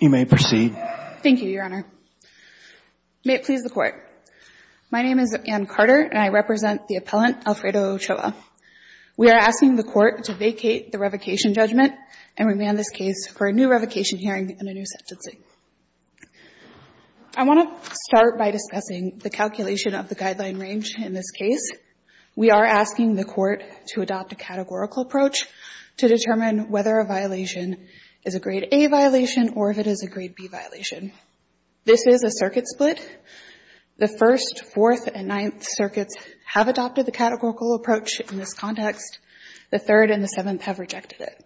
You may proceed. Thank you, Your Honor. May it please the Court. My name is Anne Carter and I represent the appellant Alfredo Ochoa. We are asking the Court to vacate the revocation judgment and remand this case for a new revocation hearing and a new sentencing. I want to start by discussing the calculation of the guideline range in this case. We are asking the Court to adopt a categorical approach to determine whether a violation is a Grade A violation or if it is a Grade B violation. This is a circuit split. The First, Fourth and Ninth Circuits have adopted the categorical approach in this context. The Third and the Seventh have rejected it.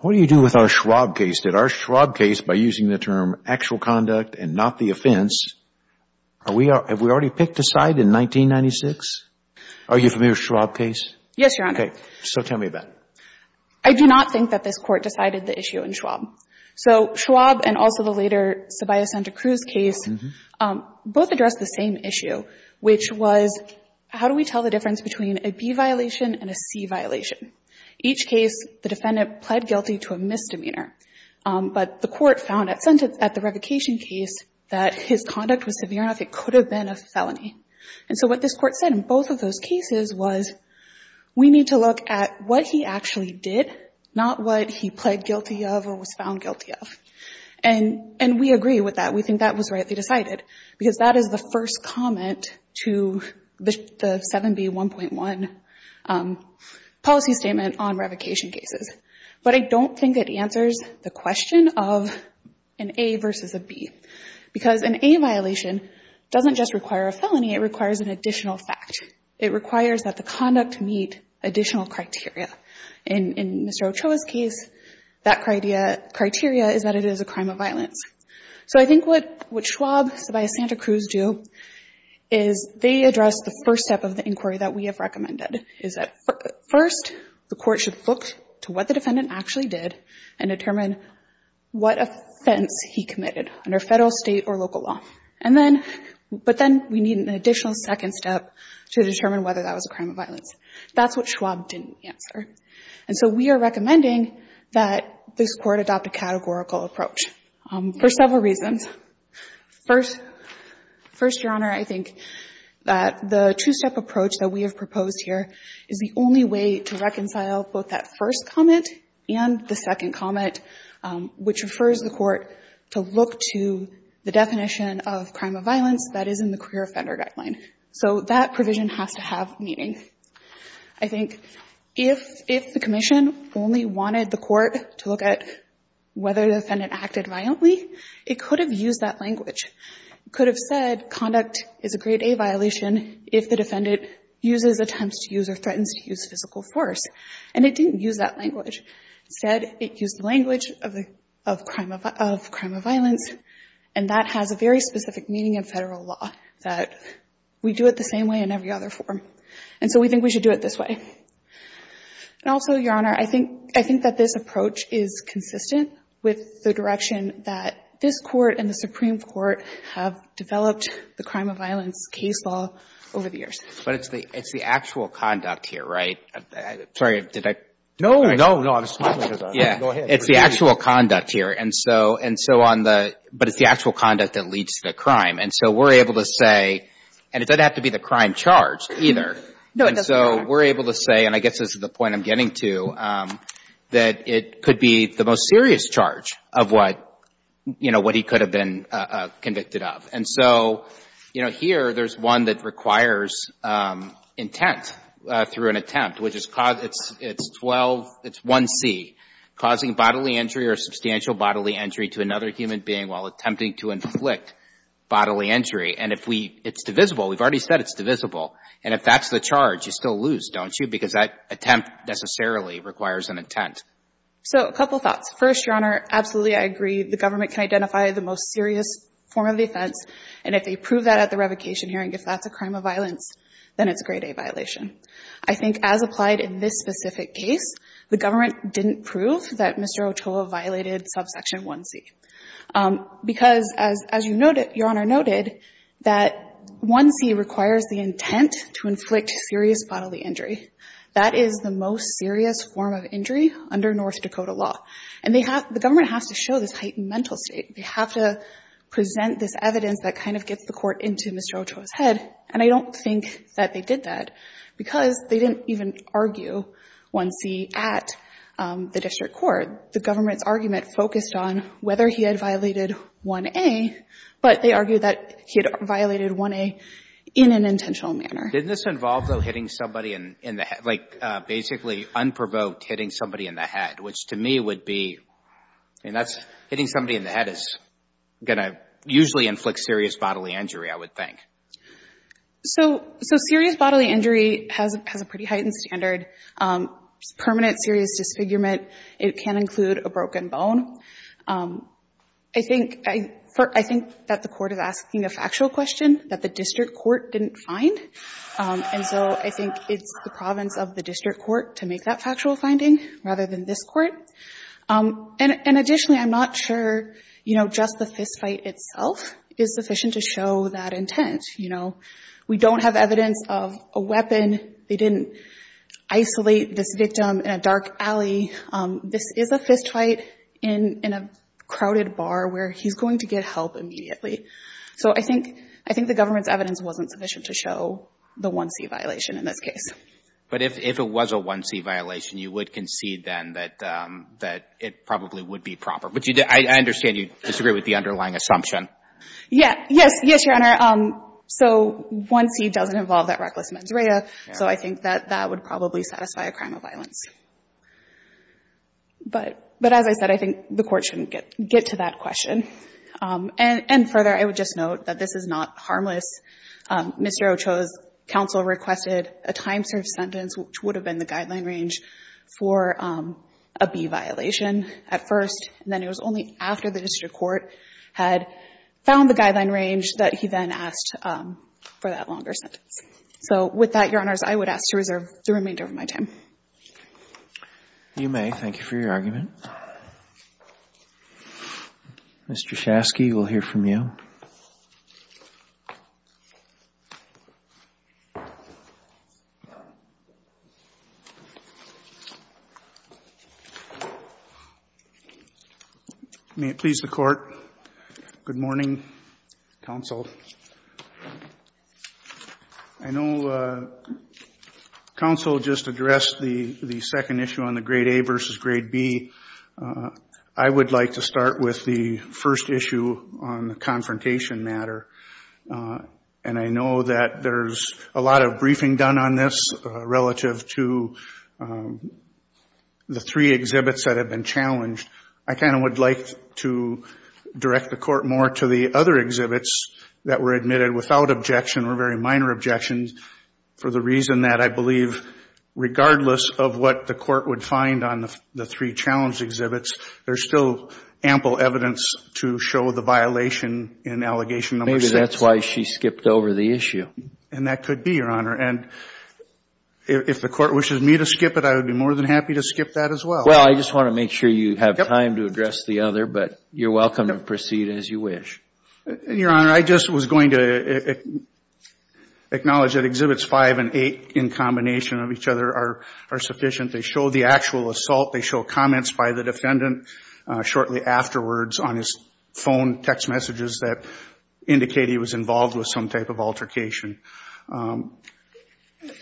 What do you do with our Schwab case? Did our Schwab case, by using the term actual conduct and not the offense, are we — have we already picked a side in 1996? Are you familiar with the Schwab case? Yes, Your Honor. Okay. So tell me about it. I do not think that this Court decided the issue in Schwab. So Schwab and also the later Ceballos-Santacruz case both addressed the same issue, which was how do we tell the difference between a B violation and a C violation? Each case, the defendant pled guilty to a misdemeanor. But the Court found at the revocation case that his conduct was severe enough it could have been a felony. And so what this Court said in both of those cases was we need to look at what he actually did, not what he pled guilty of or was found guilty of. And we agree with that. We think that was rightly decided, because that is the first comment to the 7B1.1 policy statement on revocation cases. But I don't think it answers the question of an A versus a B, because an A violation doesn't just require a felony. It requires an additional fact. It requires that the conduct meet additional criteria. In Mr. Ochoa's case, that criteria is that it is a crime of violence. So I think what Schwab, Ceballos-Santacruz do is they address the first step of the inquiry that we have recommended, is that first, the Court should look to what the defendant actually did and determine what offense he committed under federal, state, or local law. And then, but then we need an additional second step to determine whether that was a crime of violence. That's what Schwab didn't answer. And so we are recommending that this Court adopt a categorical approach for several reasons. First, Your Honor, I think that the two-step approach that we have proposed here is the only way to reconcile both that first comment and the second comment, which refers the Court to look to the definition of crime of violence that is in the career offender guideline. So that provision has to have meaning. I think if the Commission only wanted the Court to look at whether the defendant acted violently, it could have used that language. It could have said conduct is a grade A violation if the defendant uses, attempts to use, or threatens to use physical force. And it didn't use that language. Instead, it used the language of crime of violence. And that has a very specific meaning in federal law, that we do it the same way in every other form. And so we think we should do it this way. And also, Your Honor, I think that this approach is consistent with the direction that this Court and the Supreme Court have developed the crime of violence case law over the years. But it's the actual conduct here, right? Sorry, did I? No, no, no. I was talking about it. Go ahead. It's the actual conduct here. And so on the — but it's the actual conduct that leads to the crime. And so we're able to say — and it doesn't have to be the crime charge, either. No, it doesn't have to be the crime charge. And so we're able to say, and I guess this is the point I'm getting to, that it could be the most serious charge of what, you know, what he could have been convicted of. And so, you know, here there's one that requires intent through an attempt, which is — it's 12 — it's 1C, causing bodily injury or substantial bodily injury to another human being while attempting to inflict bodily injury. And if we — it's divisible. We've already said it's divisible. And if that's the charge, you still lose, don't you? Because that attempt necessarily requires an intent. So a couple thoughts. First, Your Honor, absolutely I agree the government can identify the most serious form of offense. And if they prove that at the revocation hearing, if that's a crime of violence, then it's a grade A violation. I think as applied in this specific case, the government didn't prove that Mr. Otoa violated subsection 1C. Because as you noted — Your Honor noted that 1C requires the intent to inflict serious bodily injury. That is the most serious form of injury under North Dakota law. And they have — the government has to show this heightened mental state. They have to present this evidence that kind of gets the Court into Mr. Otoa's head. And I don't think that they did that, because they didn't even argue 1C at the district court. The government's argument focused on whether he had violated 1A, but they argued that he had violated 1A in an intentional manner. Didn't this involve, though, hitting somebody in the — like, basically unprovoked hitting somebody in the head, which to me would be — I mean, that's — hitting somebody in the head is going to usually inflict serious bodily injury, I would think. So serious bodily injury has a pretty heightened standard. Permanent serious disfigurement. It can include a broken bone. I think that the Court is asking a factual question that the district court didn't find. And so I think it's the of the district court to make that factual finding rather than this Court. And additionally, I'm not sure, you know, just the fistfight itself is sufficient to show that intent. You know, we don't have evidence of a weapon. They didn't isolate this victim in a dark alley. This is a fistfight in a crowded bar where he's going to get help immediately. So I think the government's evidence wasn't sufficient to show the 1C violation in this case. But if it was a 1C violation, you would concede then that it probably would be proper. But I understand you disagree with the underlying assumption. Yeah. Yes. Yes, Your Honor. So 1C doesn't involve that reckless mens rea, so I think that that would probably satisfy a crime of violence. But as I said, I think the Court shouldn't get to that question. And further, I would just note that this is harmless. Mr. Ochoa's counsel requested a time-served sentence, which would have been the guideline range for a B violation at first. And then it was only after the district court had found the guideline range that he then asked for that longer sentence. So with that, Your Honors, I would ask to reserve the remainder of my time. You may. Thank you for your argument. Mr. Shasky, we'll hear from you. May it please the Court. Good morning, counsel. I know counsel just addressed the second issue on the grade A versus grade B. I would like to start with the first issue on the confrontation matter. And I know that there's a lot of briefing done on this relative to the three exhibits that have been challenged. I kind of would like to direct the Court more to the other exhibits that were admitted without objection or very minor objections for the reason that I believe regardless of what the Court would find on the three exhibits, there's still ample evidence to show the violation in allegation number six. Maybe that's why she skipped over the issue. And that could be, Your Honor. And if the Court wishes me to skip it, I would be more than happy to skip that as well. Well, I just want to make sure you have time to address the other, but you're welcome to proceed as you wish. Your Honor, I just was going to acknowledge that exhibits five and eight in combination of each other are sufficient. They show the actual assault. They show comments by the defendant shortly afterwards on his phone, text messages that indicate he was involved with some type of altercation.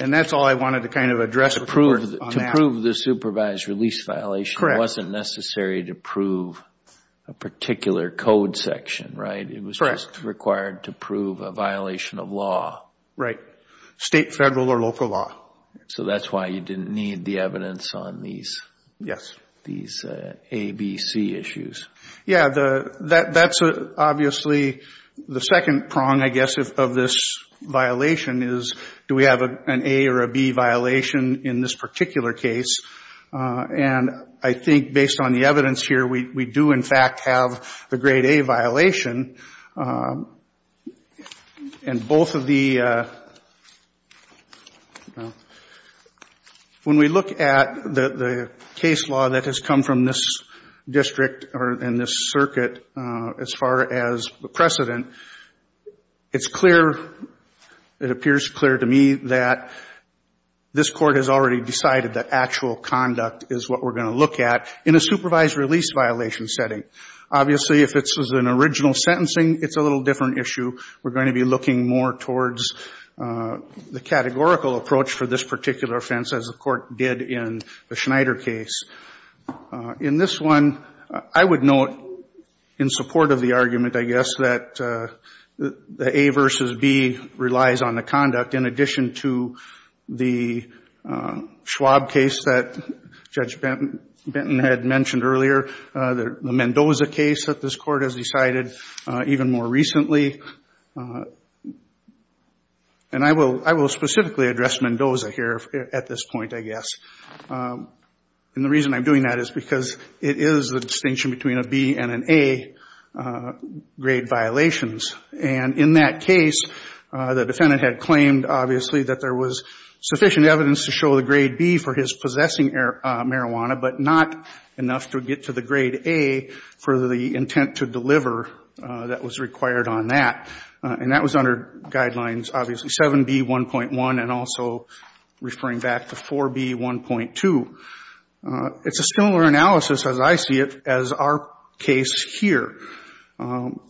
And that's all I wanted to kind of address. To prove the supervised release violation wasn't necessary to prove a particular code section, right? It was just required to prove a violation of law. Right. State, federal, or local law. So that's why you didn't need the evidence on these? Yes. These A, B, C issues. Yeah. That's obviously the second prong, I guess, of this violation is do we have an A or a B violation in this particular case? And I think based on the evidence here, we do, in fact, have the grade A violation. And both of the, when we look at the case law that has come from this district or in this circuit, as far as the precedent, it's clear, it appears clear to me that this court has already decided that actual conduct is what we're going to look at in a supervised release violation setting. Obviously, if this was an original sentencing, it's a little different issue. We're going to be looking more towards the categorical approach for this particular offense, as the court did in the Schneider case. In this one, I would note, in support of the argument, I guess, that the A versus B relies on the conduct in addition to the Schwab case that Judge Benton had mentioned earlier, the Mendoza case that this court has decided even more recently. And I will specifically address Mendoza here at this point, I guess. And the reason I'm doing that is because it is the distinction between a B and an A grade violations. And in that case, the defendant had claimed, obviously, that there was sufficient evidence to show the grade B for his possessing marijuana, but not enough to get to the grade A for the intent to deliver that was required on that. And that was under guidelines, obviously, 7B1.1 and also referring back to 4B1.2. It's a similar analysis, as I see it, as our case here. In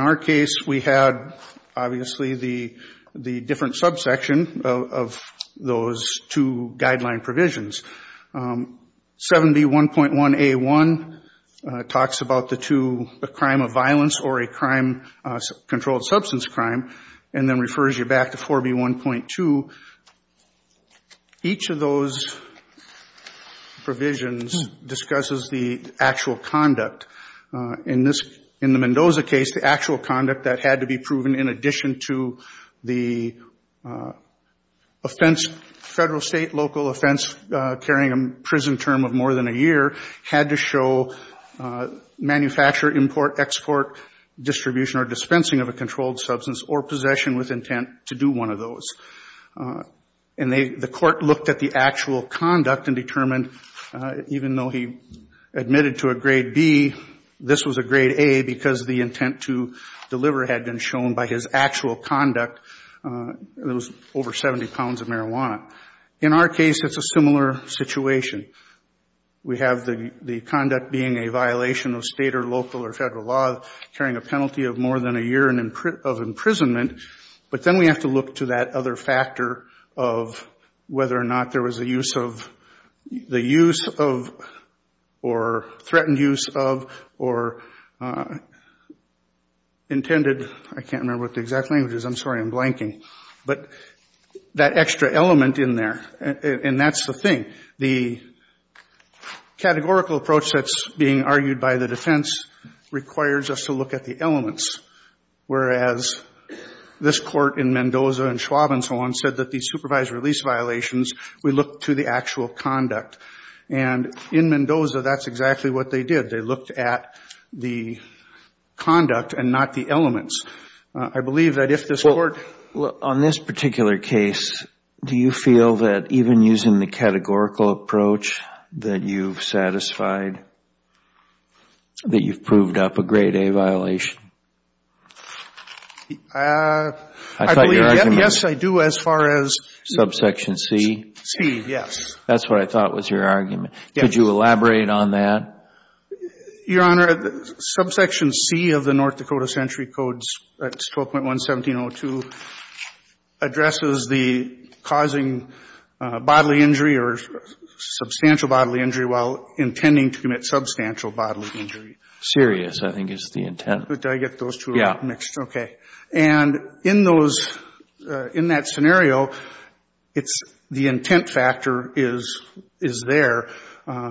our case, we had, obviously, the different subsection of those two guideline provisions. 7B1.1A1 talks about the two, a crime of violence or a crime, controlled substance crime, and then In the Mendoza case, the actual conduct that had to be proven in addition to the offense, federal, state, local offense, carrying a prison term of more than a year, had to show manufacture, import, export, distribution, or dispensing of a controlled substance or possession with intent to do one of those. And the court looked at the actual this was a grade A because the intent to deliver had been shown by his actual conduct. It was over 70 pounds of marijuana. In our case, it's a similar situation. We have the conduct being a violation of state or local or federal law, carrying a penalty of more than a year of imprisonment. But then we have to look to that other factor of whether or not there was a use of or threatened use of or intended. I can't remember what the exact language is. I'm sorry. I'm blanking. But that extra element in there, and that's the thing. The categorical approach that's being argued by the defense requires us to look at the elements, whereas this court in Mendoza and Schwab and so on said that these supervised release violations, we look to the actual conduct. And in Mendoza, that's exactly what they did. They looked at the conduct and not the elements. I believe that if this court On this particular case, do you feel that even using the categorical approach that you've satisfied that you've proved up a grade A violation? I believe, yes, I do, as far as Subsection C? C, yes. That's what I thought was your argument. Could you elaborate on that? Your Honor, subsection C of the North Dakota Century Code, that's 12.1-1702, addresses the causing bodily injury or substantial bodily injury while intending to commit substantial bodily injury. Serious, I think is the intent. Did I get those two mixed? Okay. And in that scenario, the intent factor is there,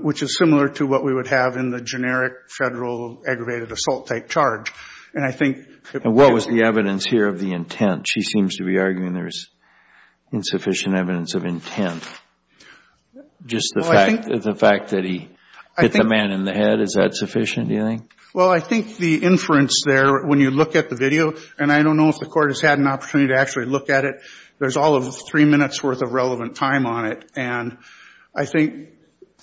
which is similar to what we would have in the generic federal aggravated assault type charge. And what was the evidence here of the intent? She seems to be arguing there's insufficient evidence of intent. Just the fact that he hit the man in the head, is that sufficient, do you think? Well, I think the inference there, when you look at the video, and I don't know if the court has had an opportunity to actually look at it, there's all of three minutes worth of relevant time on it. And I think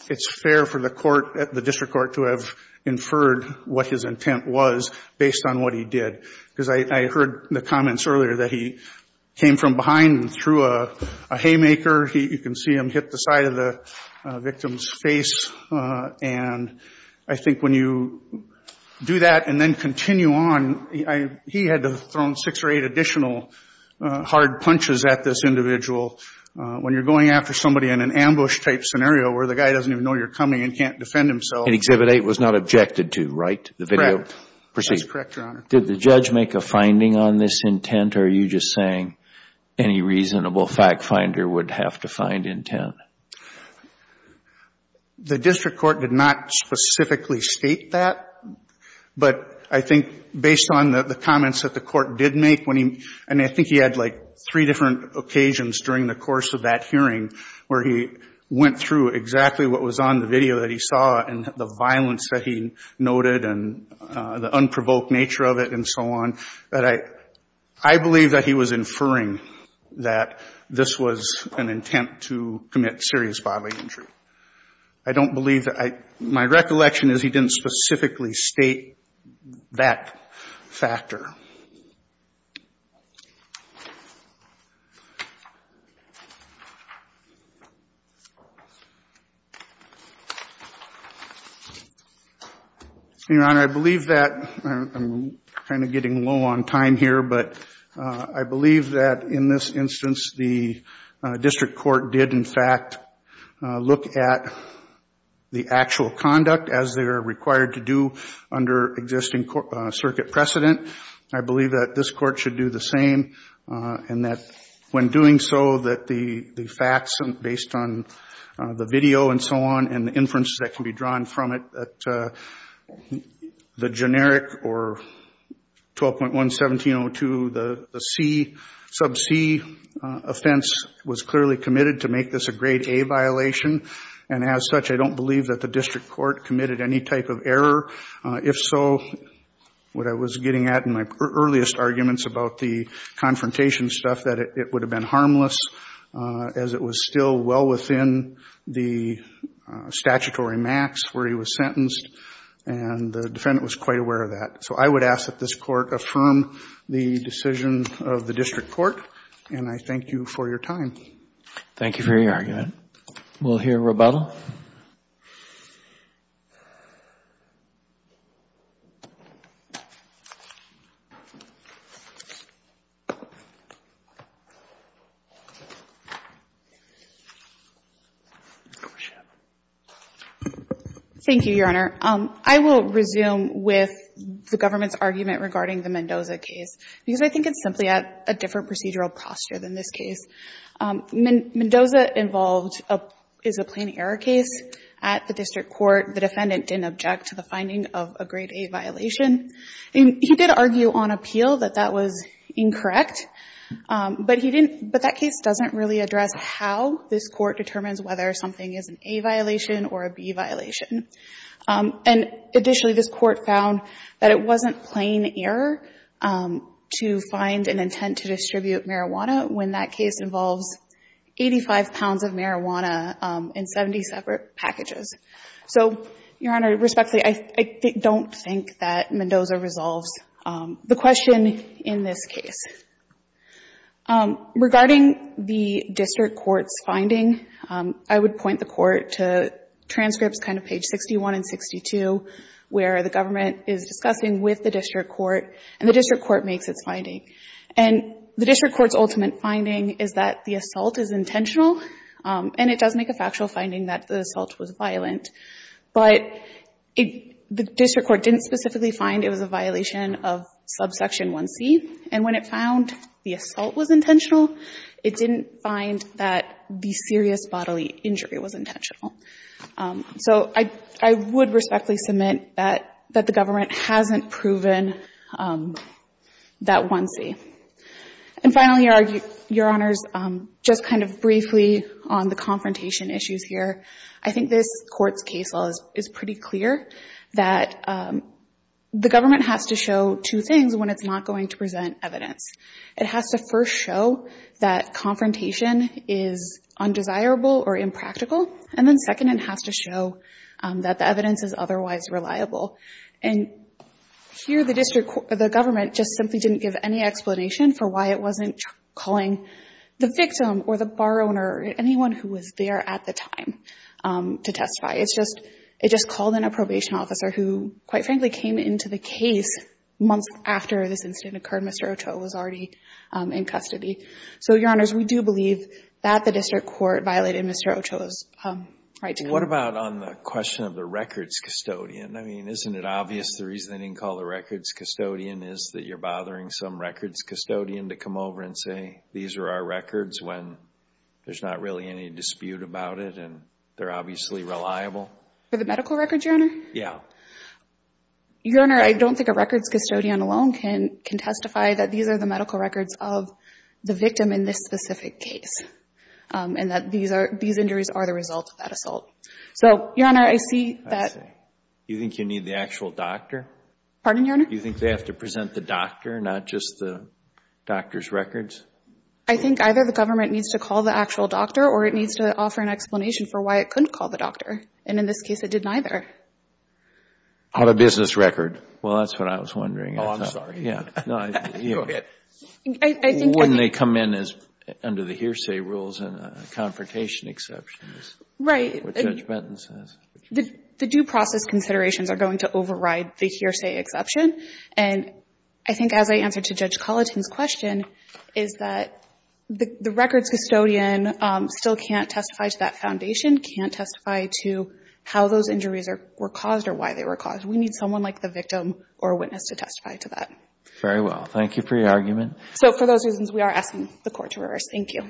it's fair for the court, the district court, to have inferred what his intent was based on what he did. Because I heard the comments earlier that he came from behind and threw a haymaker. You can see him hit the side of the do that and then continue on. He had thrown six or eight additional hard punches at this individual. When you're going after somebody in an ambush type scenario where the guy doesn't even know you're coming and can't defend himself. And Exhibit 8 was not objected to, right, the video? Correct. Proceed. That's correct, Your Honor. Did the judge make a finding on this intent, or are you just saying any reasonable fact finder would have to find intent? The district court did not specifically state that. But I think based on the comments that the court did make when he, and I think he had like three different occasions during the course of that hearing where he went through exactly what was on the video that he saw, and the violence that he noted, and the unprovoked nature of it and so on. I believe that he was serious bodily injury. I don't believe that, my recollection is he didn't specifically state that factor. Your Honor, I believe that, I'm kind of getting low on time here, but I believe that in this instance, the district court did in fact look at the actual conduct as they are required to do under existing circuit precedent. I believe that this court should do the same, and that when doing so, that the facts based on the video and so on, and the inference that can be drawn from it, that the generic or 12.1-1702, the C, sub C offense was clearly committed to make this a grade A violation. And as such, I don't believe that the district court committed any type of error. If so, what I was getting at in my earliest arguments about the confrontation stuff, that it would have been harmless as it was still well within the statutory max where he was sentenced, and the defendant was quite aware of that. So I would ask that this court affirm the decision of the district court, and I thank you for your time. Thank you for your argument. We'll hear rebuttal. Thank you, Your Honor. I will resume with the government's argument regarding the Mendoza case, because I think it's simply at a different procedural posture than this case. Mendoza is a plain error case at the district court. The defendant didn't object to the finding of a grade A violation. He did argue on appeal that that was incorrect, but that case doesn't really address how this court determines whether something is an A violation or a B violation. And additionally, this court found that it wasn't plain error to find an intent to distribute marijuana when that case involves 85 pounds of marijuana in 70 separate packages. So, Your Honor, respectfully, I don't think that Mendoza resolves the question in this case. Regarding the district court's finding, I would point the court to transcripts, kind of page 61 and 62, where the government is discussing with the district court, and the district court makes its finding. And the district court's ultimate finding is that the assault is intentional, and it does make a factual finding that the assault was violent. But the district court didn't specifically find it was a violation of subsection 1c, and when it found the assault was intentional, it didn't find that the serious bodily injury was intentional. So I would respectfully submit that the government hasn't proven that 1c. And finally, Your Honors, just kind of briefly on the confrontation issues here, I think this Court's case law is pretty clear that the government has to show two things when it's not going to present evidence. It has to first show that confrontation is undesirable or impractical, and then second, it has to show that the evidence is otherwise reliable. And here, the government just simply didn't give any explanation for why it wasn't calling the victim or the bar owner or anyone who was there at the time to testify. It just called in a probation officer who, quite frankly, came into the case months after this incident occurred. Mr. Ochoa was already in custody. So, Your Honors, we do believe that the district court violated Mr. Ochoa's right to go. What about on the question of the records custodian? I mean, isn't it obvious the reason they didn't call the records custodian is that you're bothering some records custodian to come over and say, these are our records, when there's not really any dispute about it and they're obviously reliable? For the medical records, Your Honor? Yeah. Your Honor, I don't think a records custodian alone can testify that these are the medical records of the victim in this specific case and that these injuries are the result of that assault. So, Your Honor, I see that— I see. You think you need the actual doctor? Pardon, Your Honor? Do you think they have to present the doctor, not just the doctor's records? I think either the government needs to call the actual doctor or it needs to offer an explanation for why it couldn't call the doctor. And in this case, it did neither. On a business record. Well, that's what I was wondering. Oh, I'm sorry. Yeah. No, I— I think— Wouldn't they come in under the hearsay rules and confrontation exceptions? Right. What Judge Benton says. The due process considerations are going to override the hearsay exception. And I think as I answered to Judge Colitin's question, is that the records custodian still can't testify to that foundation, can't testify to how those injuries were caused or why they were caused. We need someone like the victim or witness to testify to that. Very well. Thank you for your argument. So for those reasons, we are asking the court to reverse. Thank you.